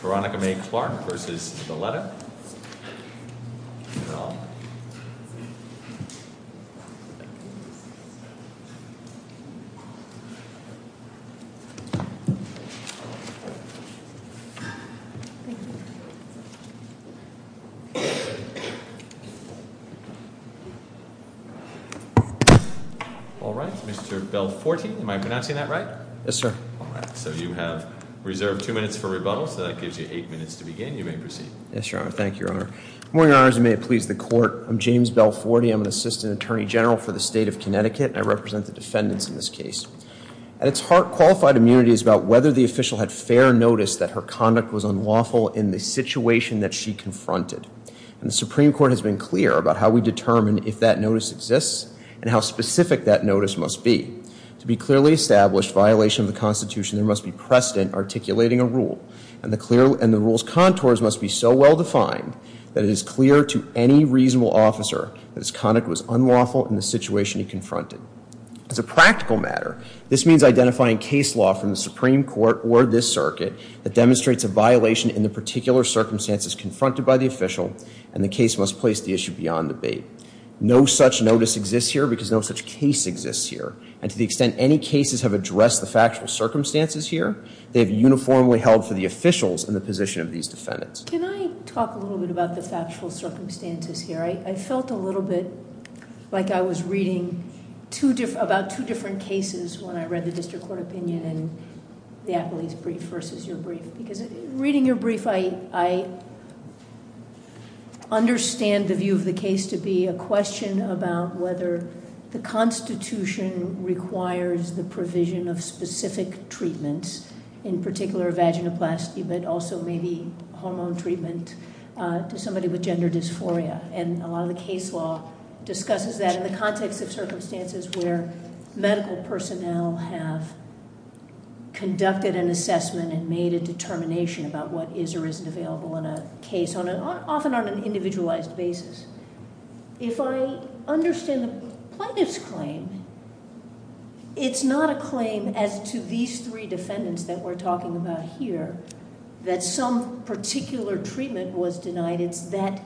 Veronica May Clark v. Valletta Thank you. All right, Mr. Belforte, am I pronouncing that right? Yes, sir. All right. So you have reserved two minutes for rebuttal, so that gives you eight minutes to begin. You may proceed. Yes, Your Honor. Thank you, Your Honor. Good morning, Your Honors, and may it please the Court. I'm James Belforte. I'm an Assistant Attorney General for the State of Connecticut, and I represent the defendants in this case. At its heart, qualified immunity is about whether the official had fair notice that her conduct was unlawful in the situation that she confronted, and the Supreme Court has been clear about how we determine if that notice exists and how specific that notice must be. To be clearly established violation of the Constitution, there must be precedent articulating a rule, and the rule's contours must be so well defined that it is clear to any reasonable officer that his conduct was unlawful in the situation he confronted. As a practical matter, this means identifying case law from the Supreme Court or this circuit that demonstrates a violation in the particular circumstances confronted by the official, and the case must place the issue beyond debate. No such notice exists here because no such case exists here, and to the extent any cases have addressed the factual circumstances here, they have uniformly held for the officials in the position of these defendants. Can I talk a little bit about the factual circumstances here? I felt a little bit like I was reading about two different cases when I read the District Attorney's brief, because reading your brief, I understand the view of the case to be a question about whether the Constitution requires the provision of specific treatments, in particular vaginoplasty, but also maybe hormone treatment to somebody with gender dysphoria, and a lot of the case law discusses that in the context of circumstances where medical personnel have conducted an assessment and made a determination about what is or isn't available in a case, often on an individualized basis. If I understand the plaintiff's claim, it's not a claim as to these three defendants that we're talking about here, that some particular treatment was denied. It's that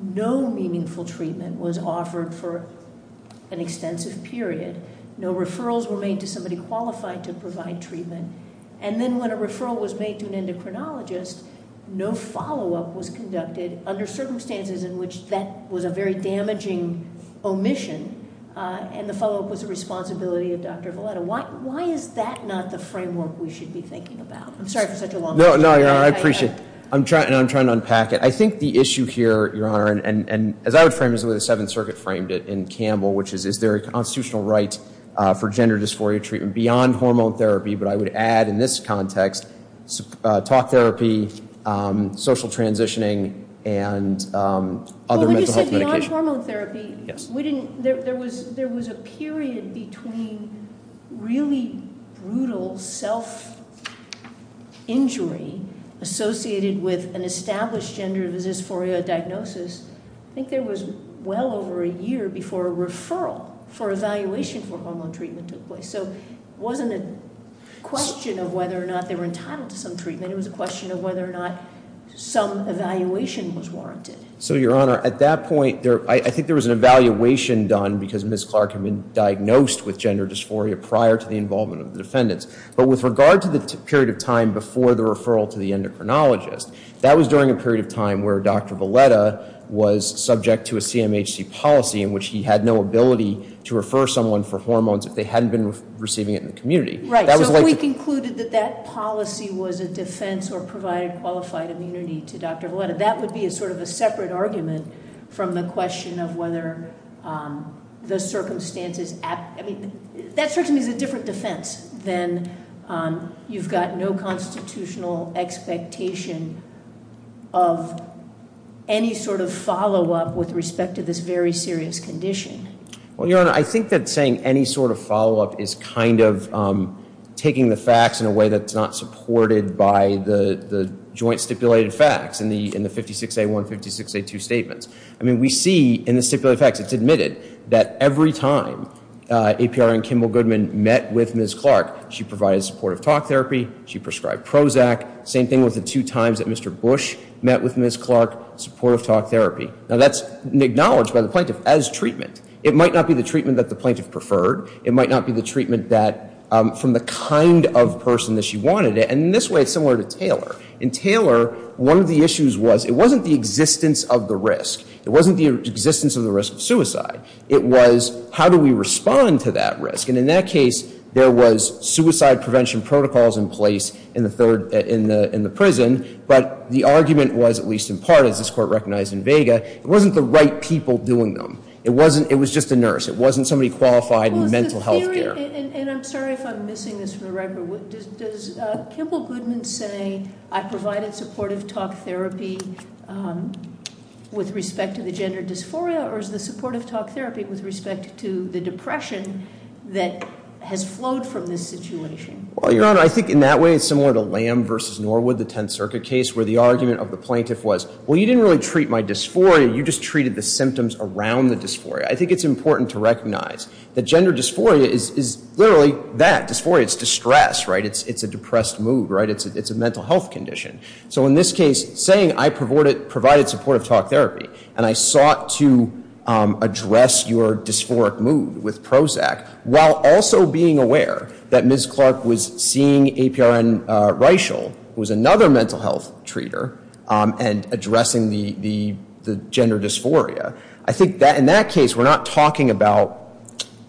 no meaningful treatment was offered for an extensive period. No referrals were made to somebody qualified to provide treatment. And then when a referral was made to an endocrinologist, no follow-up was conducted under circumstances in which that was a very damaging omission, and the follow-up was the responsibility of Dr. Valetta. Why is that not the framework we should be thinking about? I'm sorry for such a long time. No, no, Your Honor, I appreciate it. I'm trying to unpack it. I think the issue here, Your Honor, and as I would frame it, the way the Seventh Circuit framed it in Campbell, which is, is there a constitutional right for gender dysphoria treatment beyond hormone therapy? But I would add, in this context, talk therapy, social transitioning, and other mental health medication. But when you said beyond hormone therapy, there was a period between really brutal self injury associated with an established gender dysphoria diagnosis. I think there was well over a year before a referral for evaluation for hormone treatment took place. So it wasn't a question of whether or not they were entitled to some treatment. It was a question of whether or not some evaluation was warranted. So, Your Honor, at that point, I think there was an evaluation done because Ms. Clark had been diagnosed with gender dysphoria prior to the involvement of the defendants. But with regard to the period of time before the referral to the endocrinologist, that was during a period of time where Dr. Valetta was subject to a CMHC policy in which he had no ability to refer someone for hormones if they hadn't been receiving it in the community. That was like- Right, so if we concluded that that policy was a defense or provided qualified immunity to Dr. Valetta, that would be a sort of a separate argument from the question of whether the circumstances. I mean, that certainly is a different defense than you've got no constitutional expectation of any sort of follow up with respect to this very serious condition. Well, Your Honor, I think that saying any sort of follow up is kind of taking the facts in a way that's not supported by the joint stipulated facts in the 56A1, 56A2 statements. I mean, we see in the stipulated facts, it's admitted that every time APR and Kimball Goodman met with Ms. Clark, she provided supportive talk therapy, she prescribed Prozac. Same thing with the two times that Mr. Bush met with Ms. Clark, supportive talk therapy. Now, that's acknowledged by the plaintiff as treatment. It might not be the treatment that the plaintiff preferred. It might not be the treatment that, from the kind of person that she wanted it. And in this way, it's similar to Taylor. In Taylor, one of the issues was, it wasn't the existence of the risk. It wasn't the existence of the risk of suicide. It was, how do we respond to that risk? And in that case, there was suicide prevention protocols in place in the prison. But the argument was, at least in part, as this court recognized in Vega, it wasn't the right people doing them. It was just a nurse. It wasn't somebody qualified in mental health care. And I'm sorry if I'm missing this from the record. Does Kimball Goodman say, I provided supportive talk therapy with respect to the gender dysphoria? Or is the supportive talk therapy with respect to the depression that has flowed from this situation? I think in that way, it's similar to Lamb versus Norwood, the Tenth Circuit case, where the argument of the plaintiff was, well, you didn't really treat my dysphoria. You just treated the symptoms around the dysphoria. I think it's important to recognize that gender dysphoria is literally that, dysphoria. It's distress, right? It's a depressed mood, right? It's a mental health condition. So in this case, saying I provided supportive talk therapy, and I sought to address your dysphoric mood with Prozac, while also being aware that Ms. Clark was seeing APRN Reischel, who was another mental health treater, and addressing the gender dysphoria. I think that in that case, we're not talking about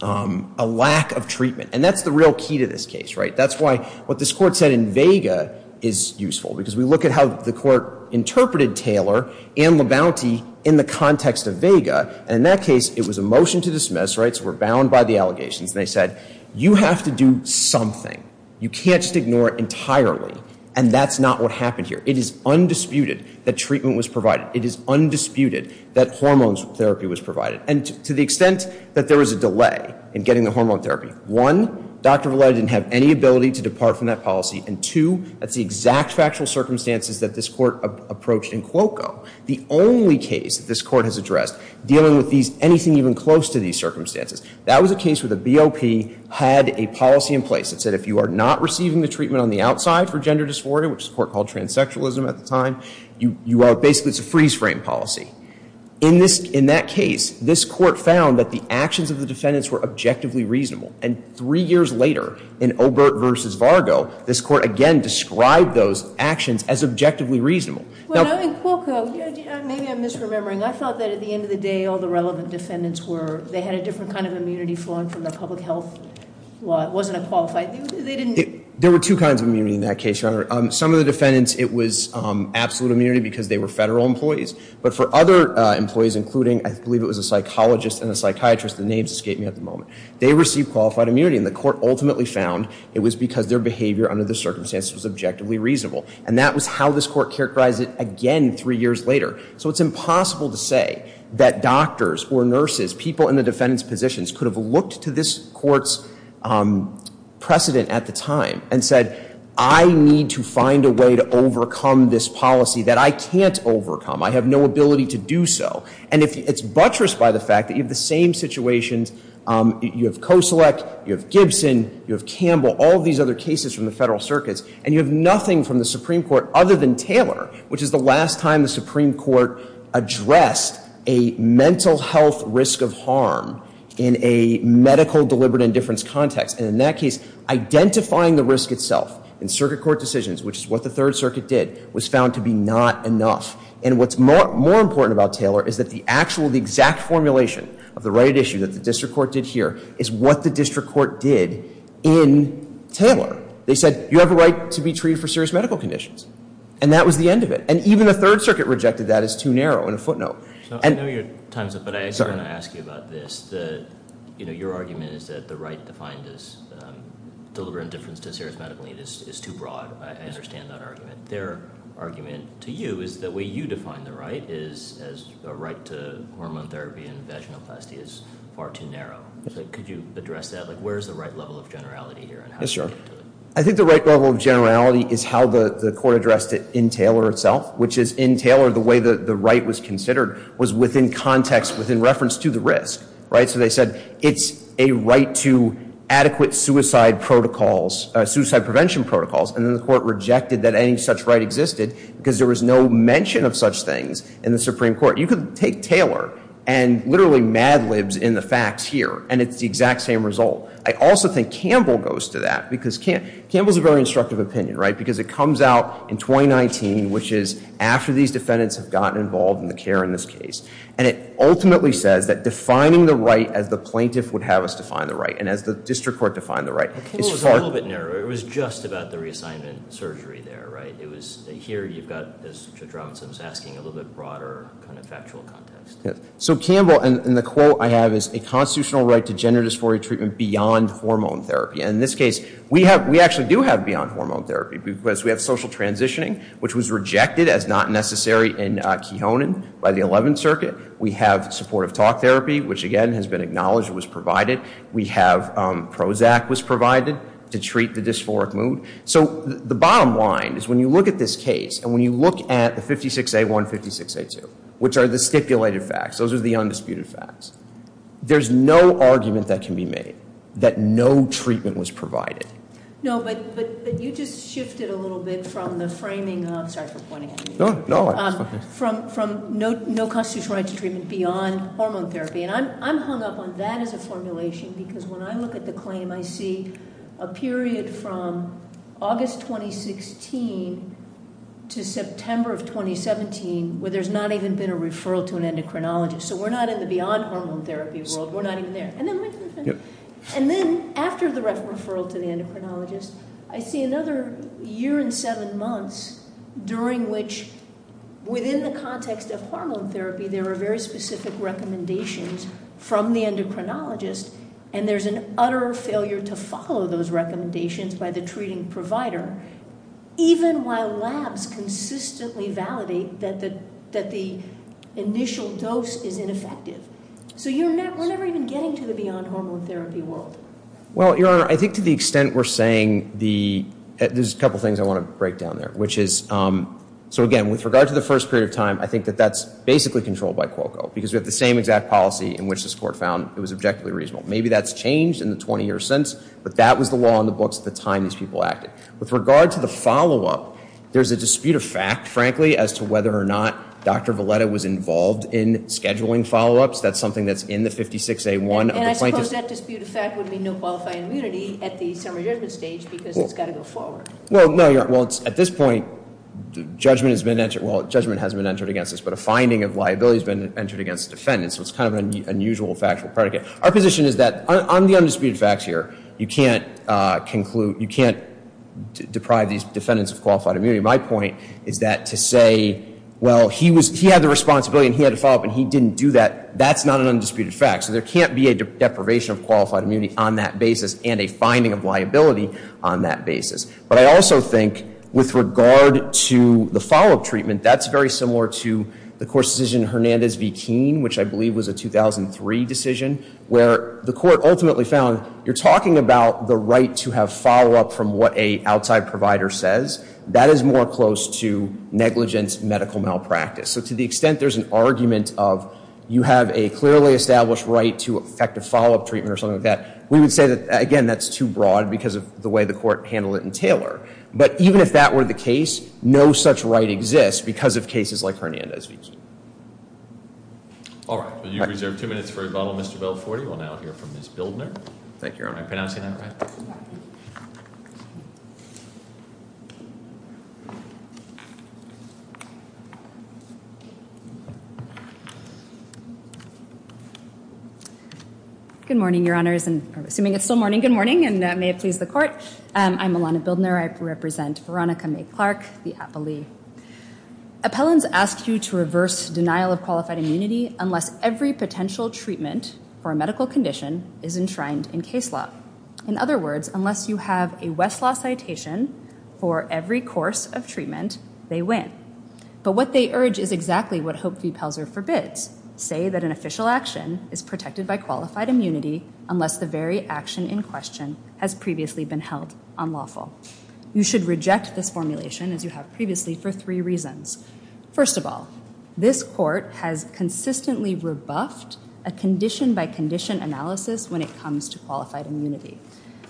a lack of treatment. And that's the real key to this case, right? That's why what this court said in Vega is useful. Because we look at how the court interpreted Taylor and Labonte in the context of Vega. And in that case, it was a motion to dismiss, right? So we're bound by the allegations. And they said, you have to do something. You can't just ignore it entirely. And that's not what happened here. It is undisputed that treatment was provided. It is undisputed that hormones therapy was provided. And to the extent that there was a delay in getting the hormone therapy. One, Dr. Valle didn't have any ability to depart from that policy. And two, that's the exact factual circumstances that this court approached in Cuoco. The only case that this court has addressed dealing with anything even close to these circumstances, that was a case where the BOP had a policy in place that said if you are not receiving the treatment on the outside for gender dysphoria, which the court called transsexualism at the time, basically it's a freeze frame policy. In that case, this court found that the actions of the defendants were objectively reasonable. And three years later, in Obert versus Vargo, this court again described those actions as objectively reasonable. Now- In Cuoco, maybe I'm misremembering, I thought that at the end of the day, all the relevant defendants were, they had a different kind of immunity flowing from their public health. Well, it wasn't a qualified, they didn't- There were two kinds of immunity in that case, Your Honor. Some of the defendants, it was absolute immunity because they were federal employees. But for other employees, including, I believe it was a psychologist and a psychiatrist, the names escape me at the moment. They received qualified immunity, and the court ultimately found it was because their behavior under the circumstances was objectively reasonable. And that was how this court characterized it again three years later. So it's impossible to say that doctors or nurses, people in the defendant's positions, could have looked to this court's precedent at the time and said, I need to find a way to overcome this policy that I can't overcome, I have no ability to do so. And it's buttressed by the fact that you have the same situations, you have Koselec, you have Gibson, you have Campbell, all these other cases from the federal circuits, and you have nothing from the Supreme Court other than Taylor, which is the last time the Supreme Court addressed a mental health risk of harm in a medical deliberate indifference context. And in that case, identifying the risk itself in circuit court decisions, which is what the Third Circuit did, was found to be not enough. And what's more important about Taylor is that the actual, the exact formulation of the right issue that the district court did here, is what the district court did in Taylor. They said, you have a right to be treated for serious medical conditions. And that was the end of it. And even the Third Circuit rejected that as too narrow in a footnote. I know your time's up, but I actually want to ask you about this. Your argument is that the right defined as deliberate indifference to serious medical need is too broad. I understand that argument. Their argument to you is the way you define the right is as a right to hormone therapy and vaginoplasty is far too narrow. Could you address that? Where's the right level of generality here? Yes, Your Honor. I think the right level of generality is how the court addressed it in Taylor itself, which is in Taylor, the way that the right was considered was within context, within reference to the risk, right? So they said, it's a right to adequate suicide protocols, suicide prevention protocols. And then the court rejected that any such right existed because there was no mention of such things in the Supreme Court. You could take Taylor and literally mad libs in the facts here, and it's the exact same result. I also think Campbell goes to that, because Campbell's a very instructive opinion, right? Because it comes out in 2019, which is after these defendants have gotten involved in the care in this case. And it ultimately says that defining the right as the plaintiff would have us define the right, and as the district court defined the right. It's far- It was a little bit narrower. It was just about the reassignment surgery there, right? It was, here you've got, as Judge Robinson was asking, a little bit broader kind of factual context. So Campbell, and the quote I have is, a constitutional right to gender dysphoria treatment beyond hormone therapy. And in this case, we actually do have beyond hormone therapy, because we have social transitioning, which was rejected as not necessary in Keonan by the 11th Circuit. We have supportive talk therapy, which again has been acknowledged, was provided. We have, Prozac was provided to treat the dysphoric mood. So the bottom line is when you look at this case, and when you look at the 56A1, 56A2, which are the stipulated facts, those are the undisputed facts. There's no argument that can be made that no treatment was provided. No, but you just shifted a little bit from the framing of, sorry for pointing at you. No, no, it's okay. From no constitutional right to treatment beyond hormone therapy. And I'm hung up on that as a formulation, because when I look at the claim, I see a period from August 2016 to September of 2017, where there's not even been a referral to an endocrinologist. So we're not in the beyond hormone therapy world, we're not even there. And then after the referral to the endocrinologist, I see another year and seven months during which, within the context of hormone therapy, there are very specific recommendations from the endocrinologist. And there's an utter failure to follow those recommendations by the treating provider, even while labs consistently validate that the initial dose is ineffective. So we're never even getting to the beyond hormone therapy world. Well, Your Honor, I think to the extent we're saying the, there's a couple things I want to break down there. Which is, so again, with regard to the first period of time, I think that that's basically controlled by Quoco. Because we have the same exact policy in which this court found it was objectively reasonable. Maybe that's changed in the 20 years since, but that was the law on the books at the time these people acted. With regard to the follow-up, there's a dispute of fact, frankly, as to whether or not Dr. Valetta was involved in scheduling follow-ups, that's something that's in the 56A1 of the plaintiff's- And I suppose that dispute of fact would mean no qualifying immunity at the summary judgment stage, because it's got to go forward. Well, no, Your Honor, well, at this point, the judgment has been entered. But a finding of liability has been entered against the defendant, so it's kind of an unusual factual predicate. Our position is that, on the undisputed facts here, you can't deprive these defendants of qualified immunity. My point is that to say, well, he had the responsibility and he had to follow up and he didn't do that, that's not an undisputed fact. So there can't be a deprivation of qualified immunity on that basis and a finding of liability on that basis. But I also think, with regard to the follow-up treatment, that's very similar to the court's decision in Hernandez v. Keene, which I believe was a 2003 decision, where the court ultimately found, you're talking about the right to have follow-up from what a outside provider says. That is more close to negligence medical malpractice. So to the extent there's an argument of, you have a clearly established right to effective follow-up treatment or something like that. We would say that, again, that's too broad because of the way the court handled it in Taylor. But even if that were the case, no such right exists because of cases like Hernandez v. Keene. All right. You reserve two minutes for rebuttal, Mr. Belforty. We'll now hear from Ms. Bildner. Thank you, Your Honor. Am I pronouncing that right? Good morning, Your Honors, and assuming it's still morning, good morning, and may it please the court. I'm Alana Bildner. I represent Veronica Mae Clark, the appellee. Appellants ask you to reverse denial of qualified immunity unless every potential treatment for a medical condition is enshrined in case law. In other words, unless you have a Westlaw citation for every course of treatment, they win. But what they urge is exactly what Hope v. Pelzer forbids, say that an official action is protected by qualified immunity unless the very action in question has previously been held unlawful. You should reject this formulation as you have previously for three reasons. First of all, this court has consistently rebuffed a condition-by-condition analysis when it comes to qualified immunity.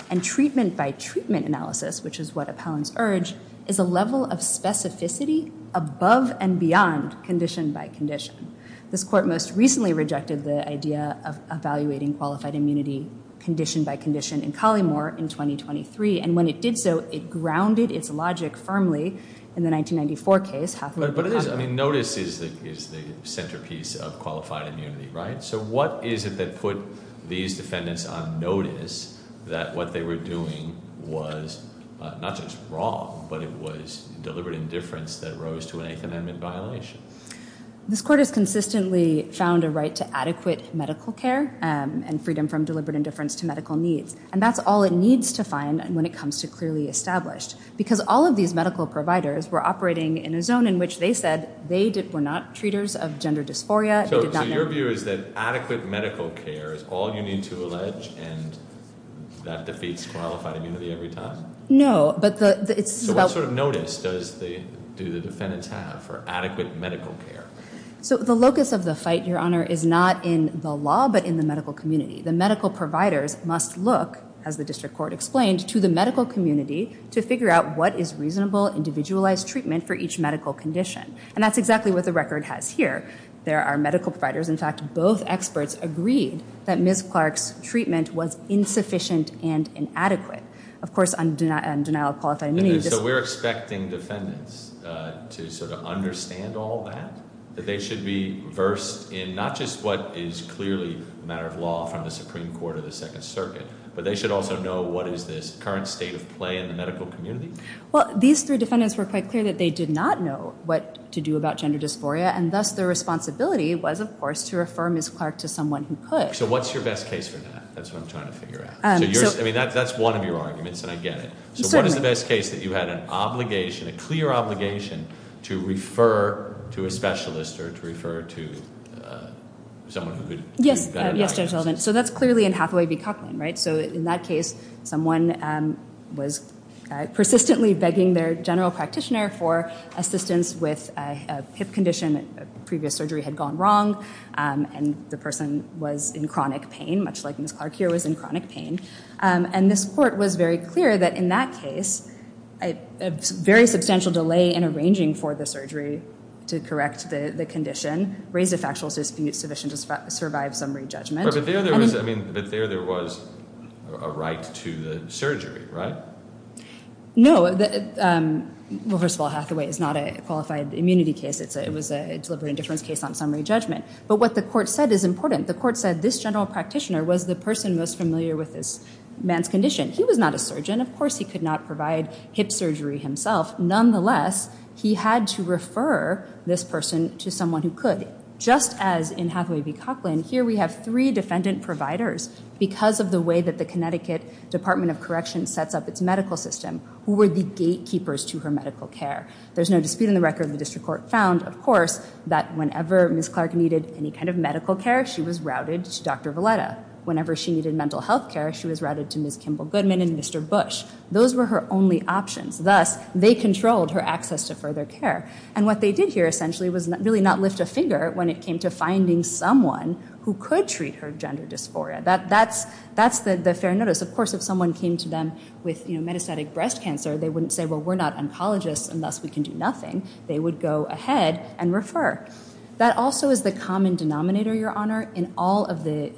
And treatment-by-treatment analysis, which is what appellants urge, is a level of specificity above and beyond condition-by-condition. This court most recently rejected the idea of evaluating qualified immunity condition-by-condition in Collymore in 2023. And when it did so, it grounded its logic firmly in the 1994 case, Hathaway v. Hathaway. But it is, I mean, notice is the centerpiece of qualified immunity, right? So what is it that put these defendants on notice that what they were doing was not just wrong, but it was deliberate indifference that rose to an Eighth Amendment violation? This court has consistently found a right to adequate medical care and freedom from deliberate indifference to medical needs. And that's all it needs to find when it comes to clearly established. Because all of these medical providers were operating in a zone in which they said they were not treaters of gender dysphoria. They did not know- So your view is that adequate medical care is all you need to allege and that defeats qualified immunity every time? No, but the, it's about- So what sort of notice do the defendants have for adequate medical care? So the locus of the fight, Your Honor, is not in the law, but in the medical community. The medical providers must look, as the district court explained, to the medical community to figure out what is reasonable, individualized treatment for each medical condition. And that's exactly what the record has here. There are medical providers, in fact, both experts agreed that Ms. Clark's treatment was insufficient and inadequate. Of course, on denial of qualified immunity- So we're expecting defendants to sort of understand all that? That they should be versed in not just what is clearly a matter of law from the Supreme Court or the Second Circuit, but they should also know what is this current state of play in the medical community? Well, these three defendants were quite clear that they did not know what to do about gender dysphoria, and thus their responsibility was, of course, to refer Ms. Clark to someone who could. So what's your best case for that? That's what I'm trying to figure out. So yours, I mean, that's one of your arguments, and I get it. So what is the best case that you had an obligation, a clear obligation to refer to a specialist or to refer to someone who could- Yes, Judge Sullivan. So that's clearly in Hathaway v. Cochrane, right? So in that case, someone was persistently begging their general practitioner for assistance with a hip condition, a previous surgery had gone wrong, and the person was in chronic pain, much like Ms. Clark here was in chronic pain. And this court was very clear that in that case, a very substantial delay in arranging for the surgery to correct the condition raised a factual suspicion to survive summary judgment. But there there was a right to the surgery, right? No, well, first of all, Hathaway is not a qualified immunity case. It was a deliberate indifference case on summary judgment. But what the court said is important. The court said this general practitioner was the person most familiar with this man's condition. He was not a surgeon. Of course, he could not provide hip surgery himself. Nonetheless, he had to refer this person to someone who could. Just as in Hathaway v. Cochrane, here we have three defendant providers, because of the way that the Connecticut Department of Corrections sets up its medical system, who were the gatekeepers to her medical care. There's no dispute in the record. The district court found, of course, that whenever Ms. Clark needed any kind of medical care, she was routed to Dr. Valetta. Whenever she needed mental health care, she was routed to Ms. Kimball Goodman and Mr. Bush. Those were her only options. Thus, they controlled her access to further care. And what they did here, essentially, was really not lift a finger when it came to finding someone who could treat her gender dysphoria. That's the fair notice. Of course, if someone came to them with metastatic breast cancer, they wouldn't say, well, we're not oncologists, and thus we can do nothing. They would go ahead and refer. That also is the common denominator, Your Honor, in all of the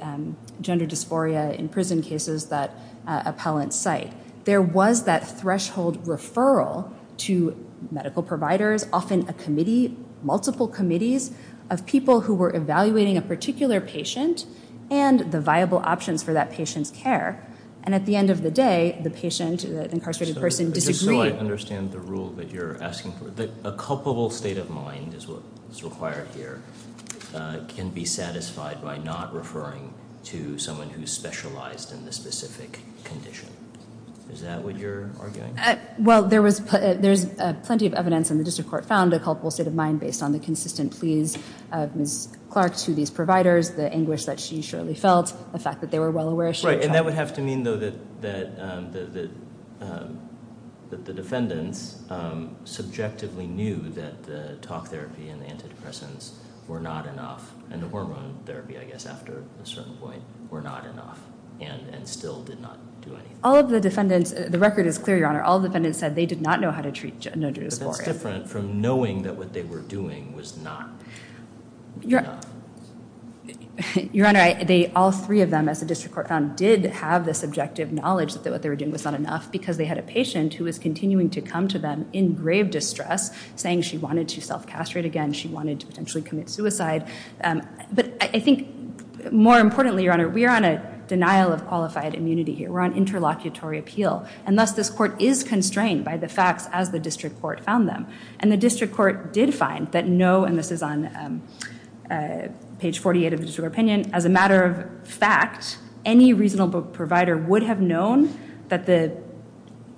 gender dysphoria in prison cases that appellants cite. There was that threshold referral to medical providers, often a committee, multiple committees of people who were evaluating a particular patient and the viable options for that patient's care. And at the end of the day, the patient, the incarcerated person, disagreed. So I understand the rule that you're asking for. A culpable state of mind is what is required here can be satisfied by not referring to someone who's specialized in the specific condition. Is that what you're arguing? Well, there's plenty of evidence in the district court found a culpable state of mind based on the consistent pleas of Ms. Clark to these providers, the anguish that she surely felt, the fact that they were well aware she was- And that would have to mean, though, that the defendants subjectively knew that the talk therapy and the antidepressants were not enough, and the hormone therapy, I guess, after a certain point were not enough and still did not do anything. All of the defendants, the record is clear, Your Honor. All defendants said they did not know how to treat gender dysphoria. But that's different from knowing that what they were doing was not- Your Honor, all three of them, as the district court found, did have the subjective knowledge that what they were doing was not enough because they had a patient who was continuing to come to them in grave distress, saying she wanted to self-castrate again, she wanted to potentially commit suicide. But I think, more importantly, Your Honor, we are on a denial of qualified immunity here. We're on interlocutory appeal. And thus, this court is constrained by the facts as the district court found them. And the district court did find that no, and this is on page 48 of the district opinion, as a matter of fact, any reasonable provider would have known that the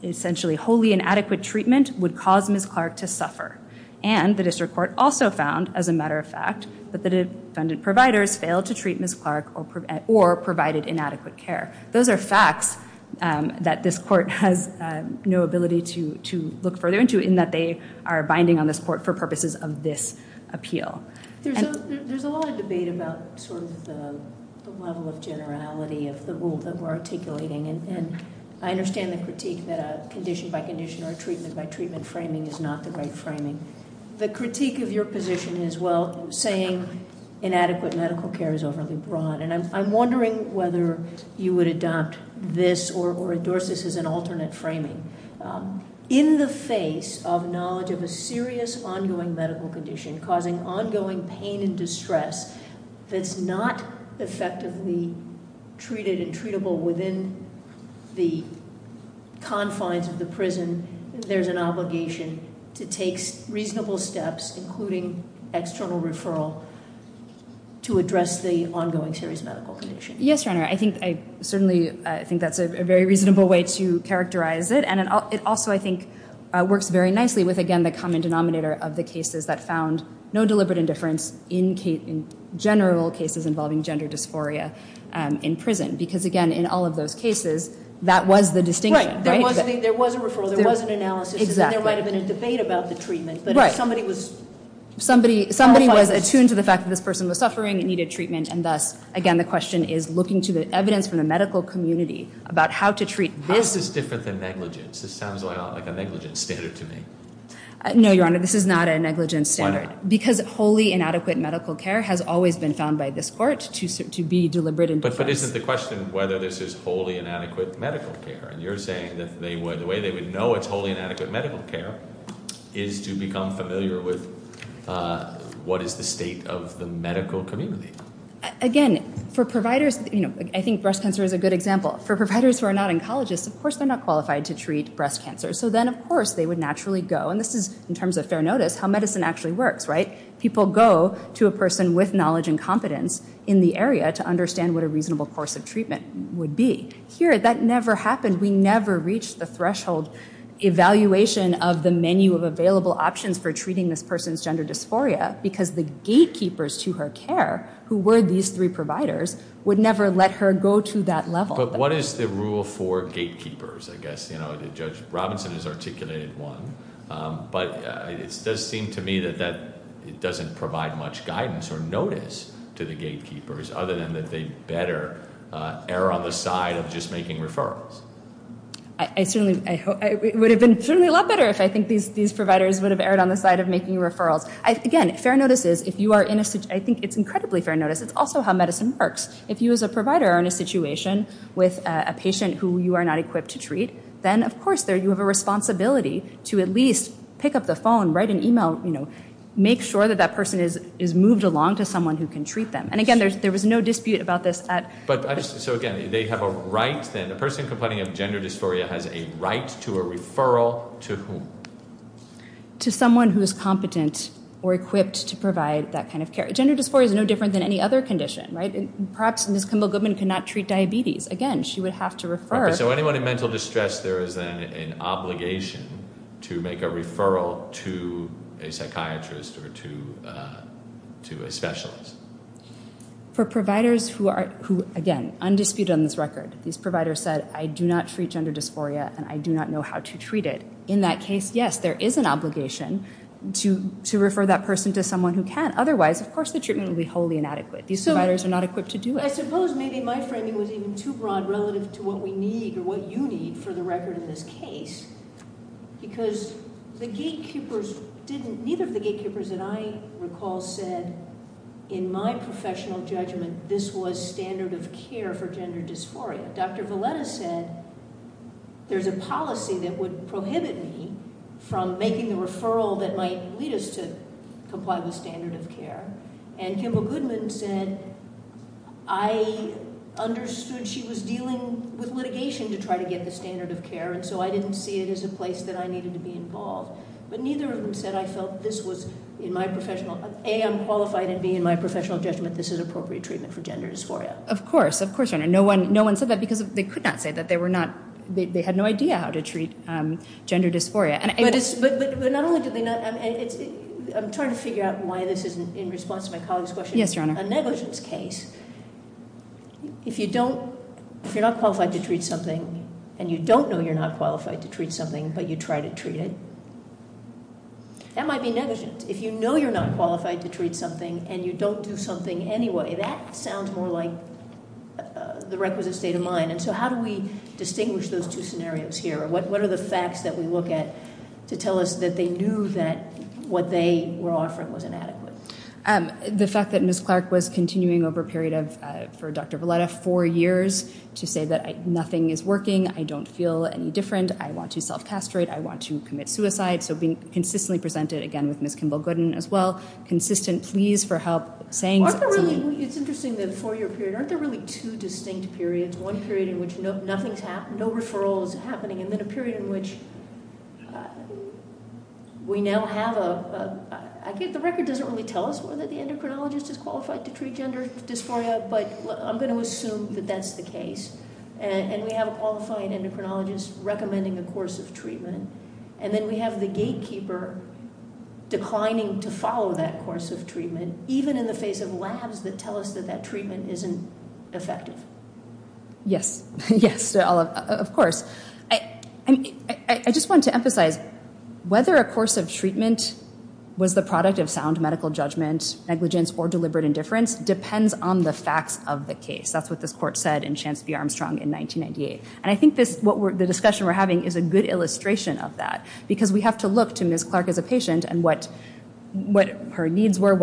essentially wholly inadequate treatment would cause Ms. Clark to suffer. And the district court also found, as a matter of fact, that the defendant providers failed to treat Ms. Clark or provided inadequate care. Those are facts that this court has no ability to look further into in that they are binding on this court for purposes of this appeal. There's a lot of debate about sort of the level of generality of the rule that we're articulating. And I understand the critique that a condition-by-condition or a treatment-by-treatment framing is not the right framing. The critique of your position is, well, saying inadequate medical care is overly broad. And I'm wondering whether you would adopt this or endorse this as an alternate framing. In the face of knowledge of a serious ongoing medical condition causing ongoing pain and distress that's not effectively treated and treatable within the confines of the prison, there's an obligation to take reasonable steps, including external referral, to address the ongoing serious medical condition. Yes, Your Honor. I think that's a very reasonable way to characterize it. It also, I think, works very nicely with, again, the common denominator of the cases that found no deliberate indifference in general cases involving gender dysphoria in prison. Because, again, in all of those cases, that was the distinction, right? Right. There was a referral. There was an analysis. Exactly. And there might have been a debate about the treatment. Right. But if somebody was- Somebody was attuned to the fact that this person was suffering and needed treatment, and thus, again, the question is looking to the evidence from the medical community about how to treat this- This sounds like a negligent standard to me. No, Your Honor. This is not a negligent standard. Because wholly inadequate medical care has always been found by this court to be deliberate indifference. But isn't the question whether this is wholly inadequate medical care? And you're saying that the way they would know it's wholly inadequate medical care is to become familiar with what is the state of the medical community. Again, for providers- I think breast cancer is a good example. For providers who are not oncologists, of course, they're not qualified to treat breast cancer. So then, of course, they would naturally go- And this is, in terms of fair notice, how medicine actually works, right? People go to a person with knowledge and competence in the area to understand what a reasonable course of treatment would be. Here, that never happened. We never reached the threshold evaluation of the menu of available options for treating this person's gender dysphoria because the gatekeepers to her care, who were these three providers, would never let her go to that level. But what is the rule for gatekeepers, I guess? You know, Judge Robinson has articulated one. But it does seem to me that it doesn't provide much guidance or notice to the gatekeepers, other than that they better err on the side of just making referrals. I certainly- it would have been a lot better if I think these providers would have erred on the side of making referrals. Again, fair notice is, if you are in a- I think it's incredibly fair notice. It's also how medicine works. If you, as a provider, are in a situation with a patient who you are not equipped to treat, then, of course, you have a responsibility to at least pick up the phone, write an email, you know, make sure that that person is moved along to someone who can treat them. And again, there was no dispute about this at- But I just- so again, they have a right, then, a person complaining of gender dysphoria has a right to a referral to whom? To someone who is competent or equipped to provide that kind of care. Gender dysphoria is no different than any other condition, right? Perhaps Ms. Kimball-Goodman could not treat diabetes. Again, she would have to refer- So anyone in mental distress, there is then an obligation to make a referral to a psychiatrist or to a specialist? For providers who are, again, undisputed on this record. These providers said, I do not treat gender dysphoria and I do not know how to treat it. In that case, yes, there is an obligation to refer that person to someone who can't. Otherwise, of course, the treatment would be wholly inadequate. These providers are not equipped to do it. I suppose maybe my framing was even too broad relative to what we need or what you need for the record in this case. Because the gatekeepers didn't- neither of the gatekeepers that I recall said, in my professional judgment, this was standard of care for gender dysphoria. Dr. Valetta said, there's a policy that would prohibit me from making the referral that might lead us to comply with standard of care. And Kimba Goodman said, I understood she was dealing with litigation to try to get the standard of care, and so I didn't see it as a place that I needed to be involved. But neither of them said I felt this was, in my professional- A, I'm qualified, and B, in my professional judgment, this is appropriate treatment for gender dysphoria. Of course. Of course, Your Honor. No one said that because they could not say that they were not- they had no idea how to treat gender dysphoria. But not only did they not- I'm trying to figure out why this isn't, in response to my colleague's question- Yes, Your Honor. A negligence case, if you don't- if you're not qualified to treat something, and you don't know you're not qualified to treat something, but you try to treat it, that might be negligence. If you know you're not qualified to treat something, and you don't do something anyway, that sounds more like the requisite state of mind. And so how do we distinguish those two scenarios here? What are the facts that we look at to tell us that they knew that what they were offering was inadequate? The fact that Ms. Clark was continuing over a period of, for Dr. Valetta, four years, to say that nothing is working, I don't feel any different, I want to self-castrate, I want to commit suicide. So being consistently presented, again, with Ms. Kimball-Gooden as well, consistent pleas for help, saying- It's interesting, the four-year period. Aren't there really two distinct periods? One period in which nothing's happened, no referral is happening, and then a period in which we now have a- The record doesn't really tell us whether the endocrinologist is qualified to treat gender dysphoria, but I'm going to assume that that's the case. And we have a qualified endocrinologist recommending a course of treatment, and then we have the gatekeeper declining to follow that course of treatment, even in the face of labs that tell us that that treatment isn't effective. Yes, yes, of course. I just want to emphasize, whether a course of treatment was the product of sound medical judgment, negligence, or deliberate indifference depends on the facts of the case. That's what this court said in Chansby-Armstrong in 1998. And I think the discussion we're having is a good illustration of that, because we have to look to Ms. Clark as a patient and what her needs were,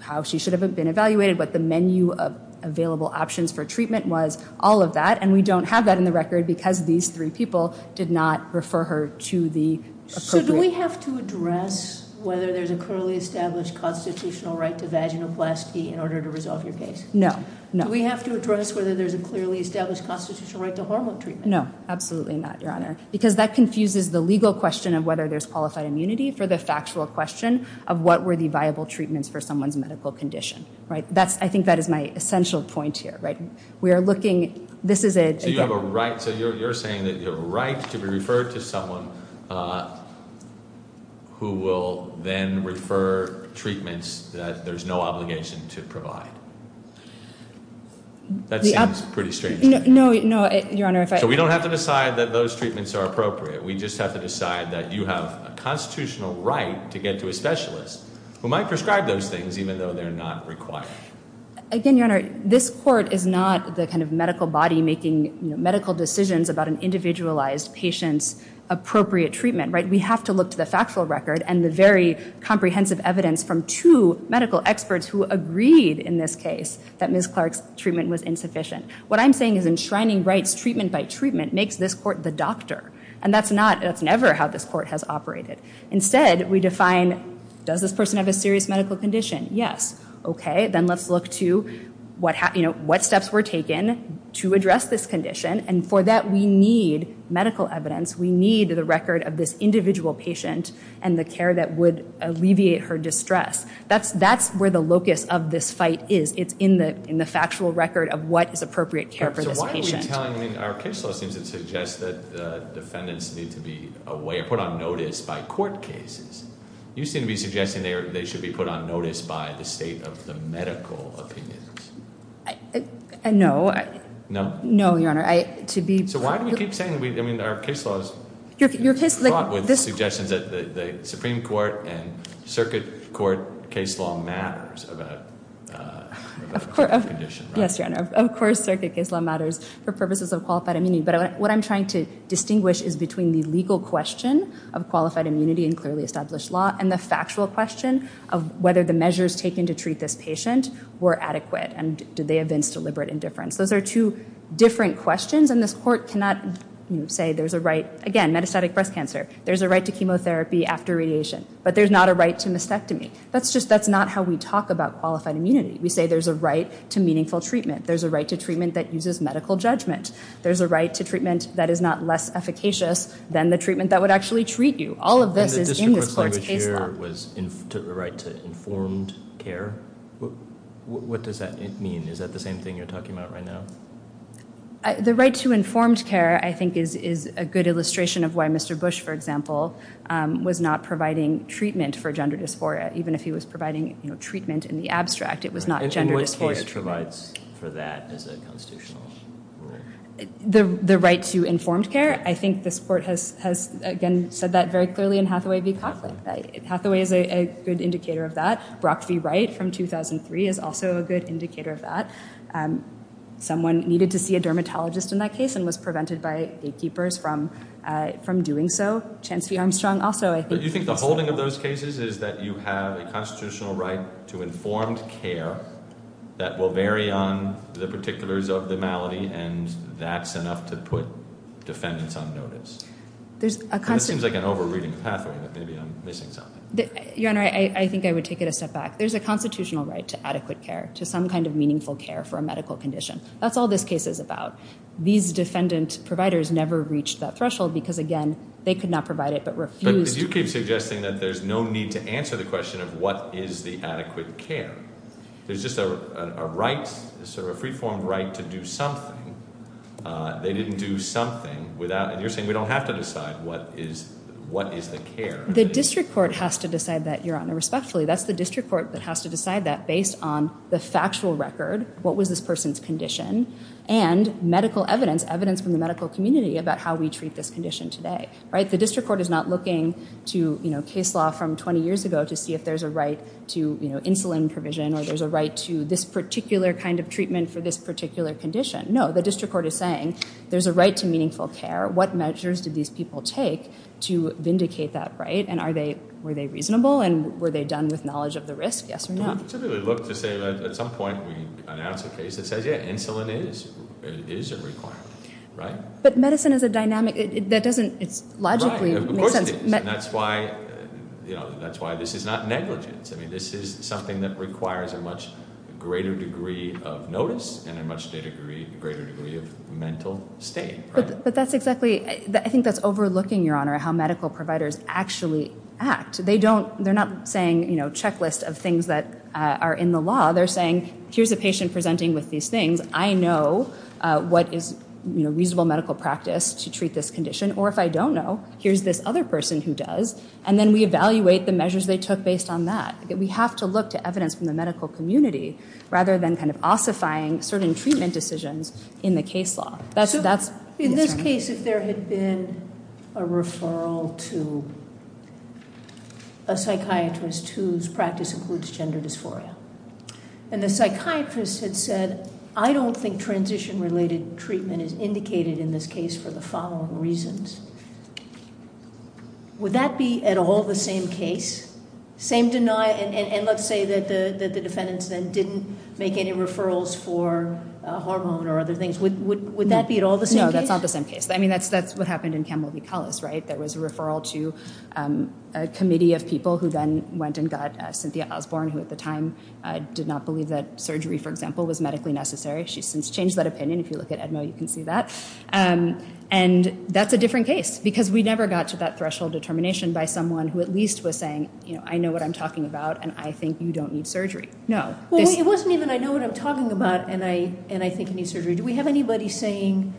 how she should have been evaluated, what the menu of available options for treatment was, all of that. And we don't have that in the record because these three people did not refer her to the- So do we have to address whether there's a clearly established constitutional right to vaginoplasty in order to resolve your case? No, no. Do we have to address whether there's a clearly established constitutional right to hormone treatment? No, absolutely not, Your Honor, because that confuses the legal question of whether there's qualified immunity for the factual question of what were the viable treatments for someone's medical condition, right? That's, I think that is my essential point here, right? We are looking, this is a- So you have a right, so you're saying that you have a right to be referred to someone who will then refer treatments that there's no obligation to provide. That seems pretty strange. No, no, Your Honor, if I- So we don't have to decide that those treatments are appropriate. We just have to decide that you have a constitutional right to get to a specialist who might prescribe those things even though they're not required. Again, Your Honor, this court is not the kind of medical body making medical decisions about an individualized patient's appropriate treatment, right? We have to look to the factual record and the very comprehensive evidence from two medical experts who agreed in this case that Ms. Clark's treatment was insufficient. What I'm saying is enshrining rights treatment by treatment makes this court the doctor. And that's not, that's never how this court has operated. Instead, we define, does this person have a serious medical condition? Yes. Okay, then let's look to what steps were taken to address this condition. And for that, we need medical evidence. We need the record of this individual patient and the care that would alleviate her distress. That's where the locus of this fight is. It's in the factual record of what is appropriate care for this patient. Our case law seems to suggest that defendants need to be away or put on notice by court cases. You seem to be suggesting they should be put on notice by the state of the medical opinions. No. No, Your Honor. So why do we keep saying, I mean, our case law is fraught with suggestions that the Supreme Court and Circuit Court case law matters about the condition, right? Yes, Your Honor. Of course, Circuit case law matters for purposes of qualified immunity. But what I'm trying to distinguish is between the legal question of qualified immunity in clearly established law and the factual question of whether the measures taken to treat this patient were adequate. And did they evince deliberate indifference? Those are two different questions. And this court cannot say there's a right, again, metastatic breast cancer. There's a right to chemotherapy after radiation. But there's not a right to mastectomy. That's just, that's not how we talk about qualified immunity. We say there's a right to meaningful treatment. There's a right to treatment that uses medical judgment. There's a right to treatment that is not less efficacious than the treatment that would actually treat you. All of this is in this court's case law. And the district court's language here was the right to informed care. What does that mean? Is that the same thing you're talking about right now? The right to informed care, I think, is a good illustration of why Mr. Bush, for example, was not providing treatment for gender dysphoria. Even if he was providing treatment in the abstract, it was not gender dysphoria. He always provides for that as a constitutional right. The right to informed care, I think this court has, again, said that very clearly in Hathaway v. Coughlin. Hathaway is a good indicator of that. Brock v. Wright from 2003 is also a good indicator of that. Someone needed to see a dermatologist in that case and was prevented by gatekeepers from doing so. Chance v. Armstrong also, I think. Do you think the holding of those cases is that you have a constitutional right to informed care that will vary on the particulars of the malady, and that's enough to put defendants on notice? This seems like an over-reading of Hathaway, but maybe I'm missing something. Your Honor, I think I would take it a step back. There's a constitutional right to adequate care, to some kind of meaningful care for a medical condition. That's all this case is about. These defendant providers never reached that threshold because, again, they could not provide it but refused. But you keep suggesting that there's no need to answer the question of what is the adequate care. There's just a right, sort of a free-form right to do something. They didn't do something without... You're saying we don't have to decide what is the care. The district court has to decide that, Your Honor, respectfully. That's the district court that has to decide that based on the factual record, what was this person's condition, and medical evidence, evidence from the medical community about how we treat this condition today. The district court is not looking to case law from 20 years ago to see if there's a right to insulin provision, or there's a right to this particular kind of treatment for this particular condition. No, the district court is saying there's a right to meaningful care. What measures did these people take to vindicate that right? And were they reasonable? And were they done with knowledge of the risk? Yes or no? We typically look to say that at some point, we announce a case that says, yeah, insulin is a requirement, right? But medicine is a dynamic. That doesn't logically make sense. That's why this is not negligence. This is something that requires a much greater degree of notice and a much greater degree of mental state. I think that's overlooking, Your Honor, how medical providers actually act. They're not saying checklist of things that are in the law. They're saying, here's a patient presenting with these things. I know what is reasonable medical practice to treat this condition. Or if I don't know, here's this other person who does. And then we evaluate the measures they took based on that. We have to look to evidence from the medical community rather than kind of ossifying certain treatment decisions in the case law. In this case, if there had been a referral to a psychiatrist whose practice includes gender dysphoria, and the psychiatrist had said, I don't think transition-related treatment is indicated in this case for the following reasons, would that be at all the same case? Same deny, and let's say that the defendants then didn't make any referrals for a hormone or other things. Would that be at all the same case? No, that's not the same case. I mean, that's what happened in Campbell v. Collis, right? There was a referral to a committee of people who then went and got Cynthia Osborne, who at the time did not believe that surgery, for example, was medically necessary. She's since changed that opinion. If you look at Edmo, you can see that. And that's a different case, because we never got to that threshold determination by someone who at least was saying, I know what I'm talking about, and I think you don't need surgery. No. Well, it wasn't even, I know what I'm talking about, and I think you need surgery. Do we have anybody saying,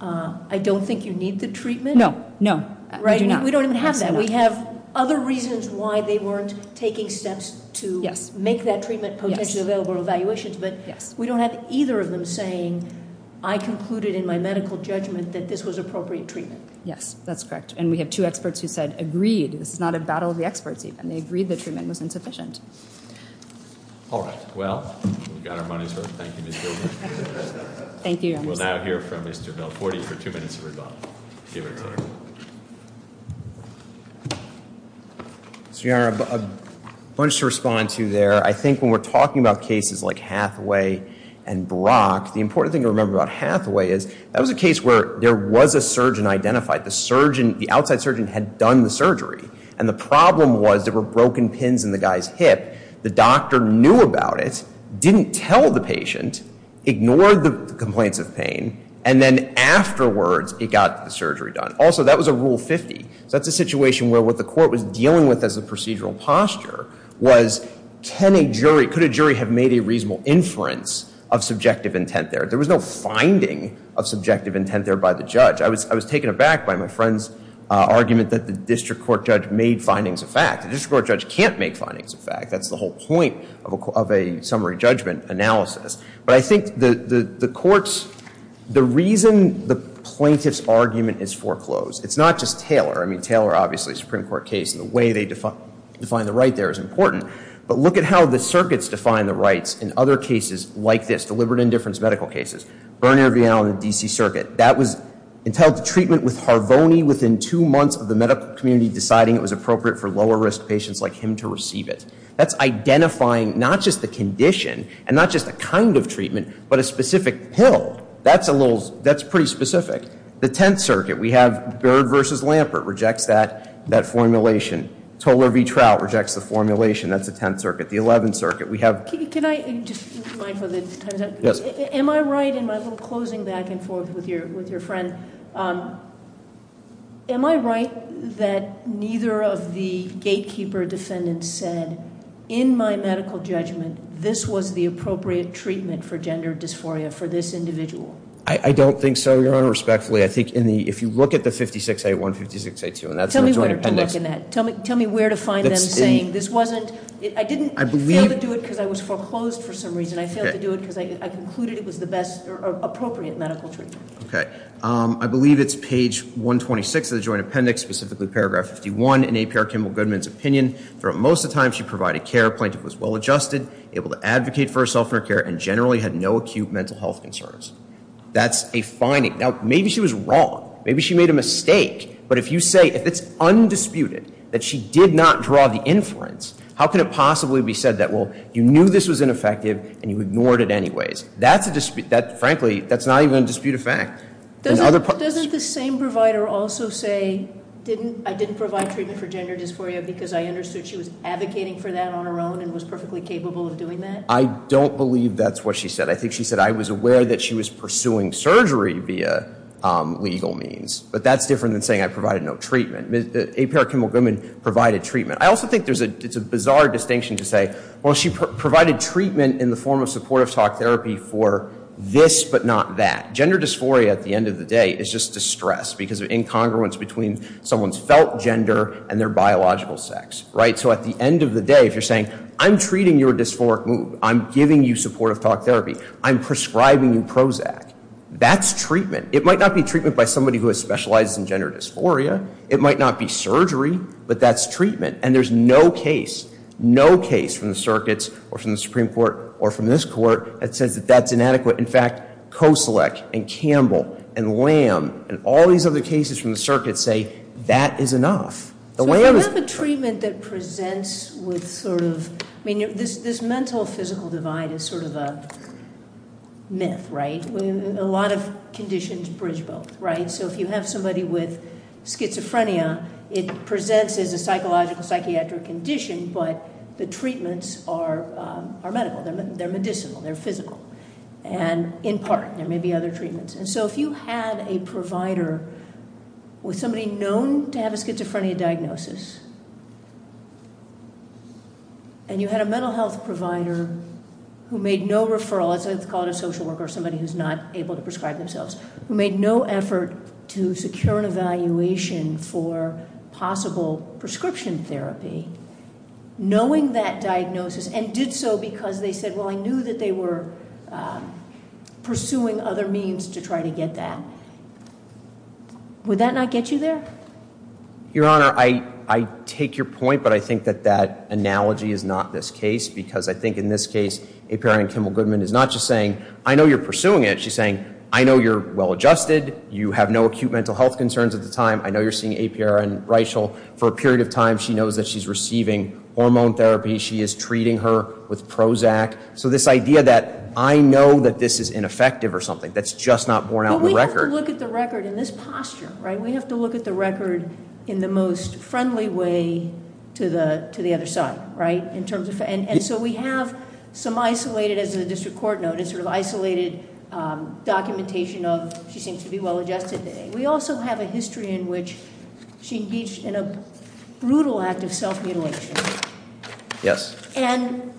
I don't think you need the treatment? No, no, we do not. We don't even have that. We have other reasons why they weren't taking steps to make that treatment potentially available or evaluations, but we don't have either of them saying, I concluded in my medical judgment that this was appropriate treatment. Yes, that's correct. And we have two experts who said, agreed. This is not a battle of the experts, even. They agreed the treatment was insufficient. All right. Well, we got our money's worth. Thank you, Ms. Gilbert. Thank you, Your Honor. We'll now hear from Mr. Belforti for two minutes of rebuttal. Mr. Your Honor, a bunch to respond to there. I think when we're talking about cases like Hathaway and Brock, the important thing to remember about Hathaway is that was a case where there was a surgeon identified. The surgeon, the outside surgeon, had done the surgery. And the problem was there were broken pins in the guy's hip. The doctor knew about it, didn't tell the patient, ignored the complaints of pain. And then afterwards, it got the surgery done. Also, that was a Rule 50. So that's a situation where what the court was dealing with as a procedural posture was can a jury, have made a reasonable inference of subjective intent there? There was no finding of subjective intent there by the judge. I was taken aback by my friend's argument that the district court judge made findings of fact. The district court judge can't make findings of fact. That's the whole point of a summary judgment analysis. But I think the reason the plaintiff's argument is foreclosed, it's not just Taylor. I mean, Taylor, obviously, Supreme Court case, and the way they define the right there is important. But look at how the circuits define the rights in other cases like this, deliberate indifference medical cases. Bernier v. Allen in the DC Circuit. That was entitled to treatment with Harvoni within two months of the medical community deciding it was appropriate for lower risk patients like him to receive it. That's identifying not just the condition and not just the kind of treatment, but a specific pill. That's pretty specific. The 10th Circuit, we have Byrd versus Lampert rejects that formulation. Tolar v. Trout rejects the formulation. That's the 10th Circuit. The 11th Circuit, we have- Can I just remind for the time's up? Yes. Am I right in my little closing back and forth with your friend, am I right that neither of the gatekeeper defendants said, in my medical judgment, this was the appropriate treatment for gender dysphoria for this individual? I don't think so, Your Honor, respectfully. I think if you look at the 56A1, 56A2 and that's- Tell me where to look in that. Tell me where to find them saying, I didn't fail to do it because I was foreclosed for some reason. I failed to do it because I concluded it was the best appropriate medical treatment. Okay. I believe it's page 126 of the Joint Appendix, specifically paragraph 51. In APR Kimball Goodman's opinion, for most of the time she provided care, plaintiff was well adjusted, able to advocate for herself in her care, and generally had no acute mental health concerns. That's a finding. Now, maybe she was wrong. Maybe she made a mistake. But if you say, if it's undisputed that she did not draw the inference, how can it possibly be said that, well, you knew this was ineffective and you ignored it anyways? Frankly, that's not even a dispute of fact. Doesn't the same provider also say, I didn't provide treatment for gender dysphoria because I understood she was advocating for that on her own and was perfectly capable of doing that? I don't believe that's what she said. I think she said, I was aware that she was pursuing surgery via legal means. But that's different than saying I provided no treatment. Apera Kimmel Goodman provided treatment. I also think it's a bizarre distinction to say, well, she provided treatment in the form of supportive talk therapy for this but not that. Gender dysphoria, at the end of the day, is just distress because of incongruence between someone's felt gender and their biological sex. So at the end of the day, if you're saying, I'm treating your dysphoric mood, I'm giving you supportive talk therapy, I'm prescribing you Prozac, that's treatment. It might not be treatment by somebody who has specialized in gender dysphoria. It might not be surgery. But that's treatment. And there's no case, no case from the circuits or from the Supreme Court or from this court that says that that's inadequate. In fact, Koselec and Campbell and Lamb and all these other cases from the circuit say that is enough. So if you have a treatment that presents with sort of, I mean, this mental physical divide is sort of a myth, right, when a lot of conditions bridge both, right? So if you have somebody with schizophrenia, it presents as a psychological psychiatric condition, but the treatments are medical. They're medicinal. They're physical. And in part, there may be other treatments. And so if you had a provider with somebody known to have a schizophrenia diagnosis, and you had a mental health provider who made no referral, let's call it a social worker or somebody who's not able to prescribe themselves, who made no effort to secure an evaluation for possible prescription therapy, knowing that diagnosis and did so because they said, well, I knew that they were pursuing other means to try to get that, would that not get you there? Your Honor, I take your point, but I think that that analogy is not this case. Because I think in this case, a parent, Kimmel Goodman, is not just saying, I know you're pursuing it. She's saying, I know you're well-adjusted. You have no acute mental health concerns at the time. I know you're seeing APR and Rachel. For a period of time, she knows that she's receiving hormone therapy. She is treating her with Prozac. So this idea that I know that this is ineffective or something, that's just not borne out the record. We have to look at the record in this posture, right? We have to look at the record in the most friendly way to the other side, right? In terms of, and so we have some isolated, as the district court noted, sort of isolated documentation of she seems to be well-adjusted today. We also have a history in which she engaged in a brutal act of self-mutilation. Yes. And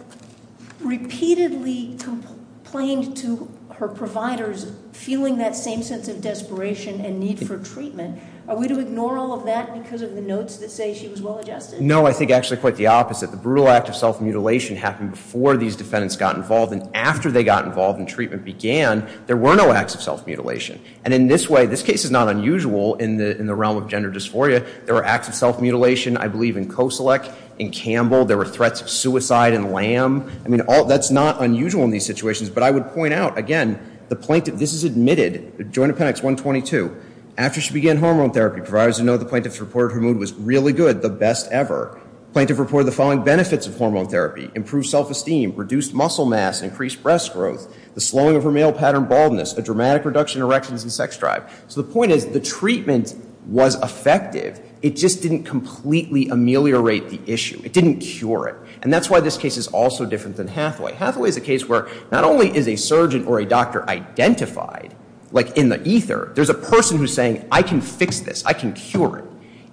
repeatedly complained to her providers, feeling that same sense of desperation and need for treatment. Are we to ignore all of that because of the notes that say she was well-adjusted? No, I think actually quite the opposite. The brutal act of self-mutilation happened before these defendants got involved. And after they got involved and treatment began, there were no acts of self-mutilation. And in this way, this case is not unusual in the realm of gender dysphoria. There were acts of self-mutilation, I believe, in Koselec, in Campbell. There were threats of suicide in Lamb. I mean, that's not unusual in these situations. But I would point out, again, the plaintiff, this is admitted, Joint Appendix 122. After she began hormone therapy, providers know the plaintiff reported her mood was really good, the best ever. Plaintiff reported the following benefits of hormone therapy. Improved self-esteem, reduced muscle mass, increased breast growth, the slowing of her male pattern baldness, a dramatic reduction in erections and sex drive. So the point is, the treatment was effective. It just didn't completely ameliorate the issue. It didn't cure it. And that's why this case is also different than Hathaway. Hathaway is a case where not only is a surgeon or a doctor identified, like in the ether, there's a person who's saying, I can fix this. I can cure it.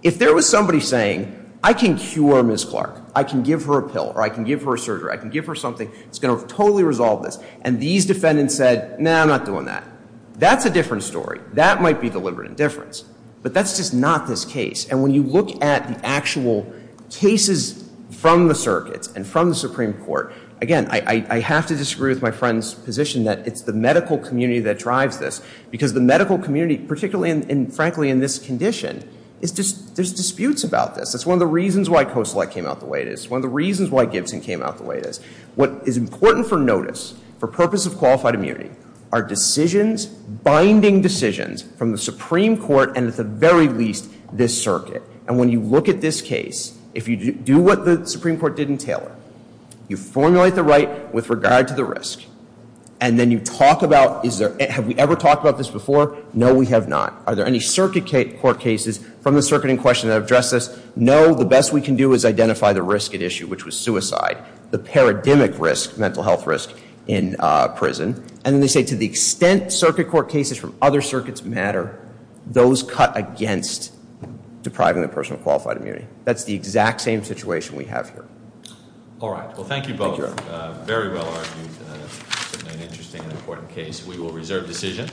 If there was somebody saying, I can cure Ms. Clark. I can give her a pill. Or I can give her a surgery. I can give her something that's going to totally resolve this. And these defendants said, no, I'm not doing that. That's a different story. That might be deliberate indifference. But that's just not this case. And when you look at the actual cases from the circuits and from the Supreme Court, again, I have to disagree with my friend's position that it's the medical community that drives this. Because the medical community, particularly and frankly in this condition, there's disputes about this. That's one of the reasons why COSELECT came out the way it is. One of the reasons why Gibson came out the way it is. What is important for notice for purpose of qualified immunity are decisions, binding decisions from the Supreme Court and at the very least this circuit. And when you look at this case, if you do what the Supreme Court did in Taylor, you formulate the right with regard to the risk. And then you talk about, have we ever talked about this before? No, we have not. Are there any circuit court cases from the circuit in question that address this? No. The best we can do is identify the risk at issue, which was suicide. The paradigmic risk, mental health risk, in prison. And they say to the extent circuit court cases from other circuits matter, those cut against depriving the person of qualified immunity. That's the exact same situation we have here. All right. Well, thank you both. Very well argued and certainly an interesting and important case. We will reserve decision.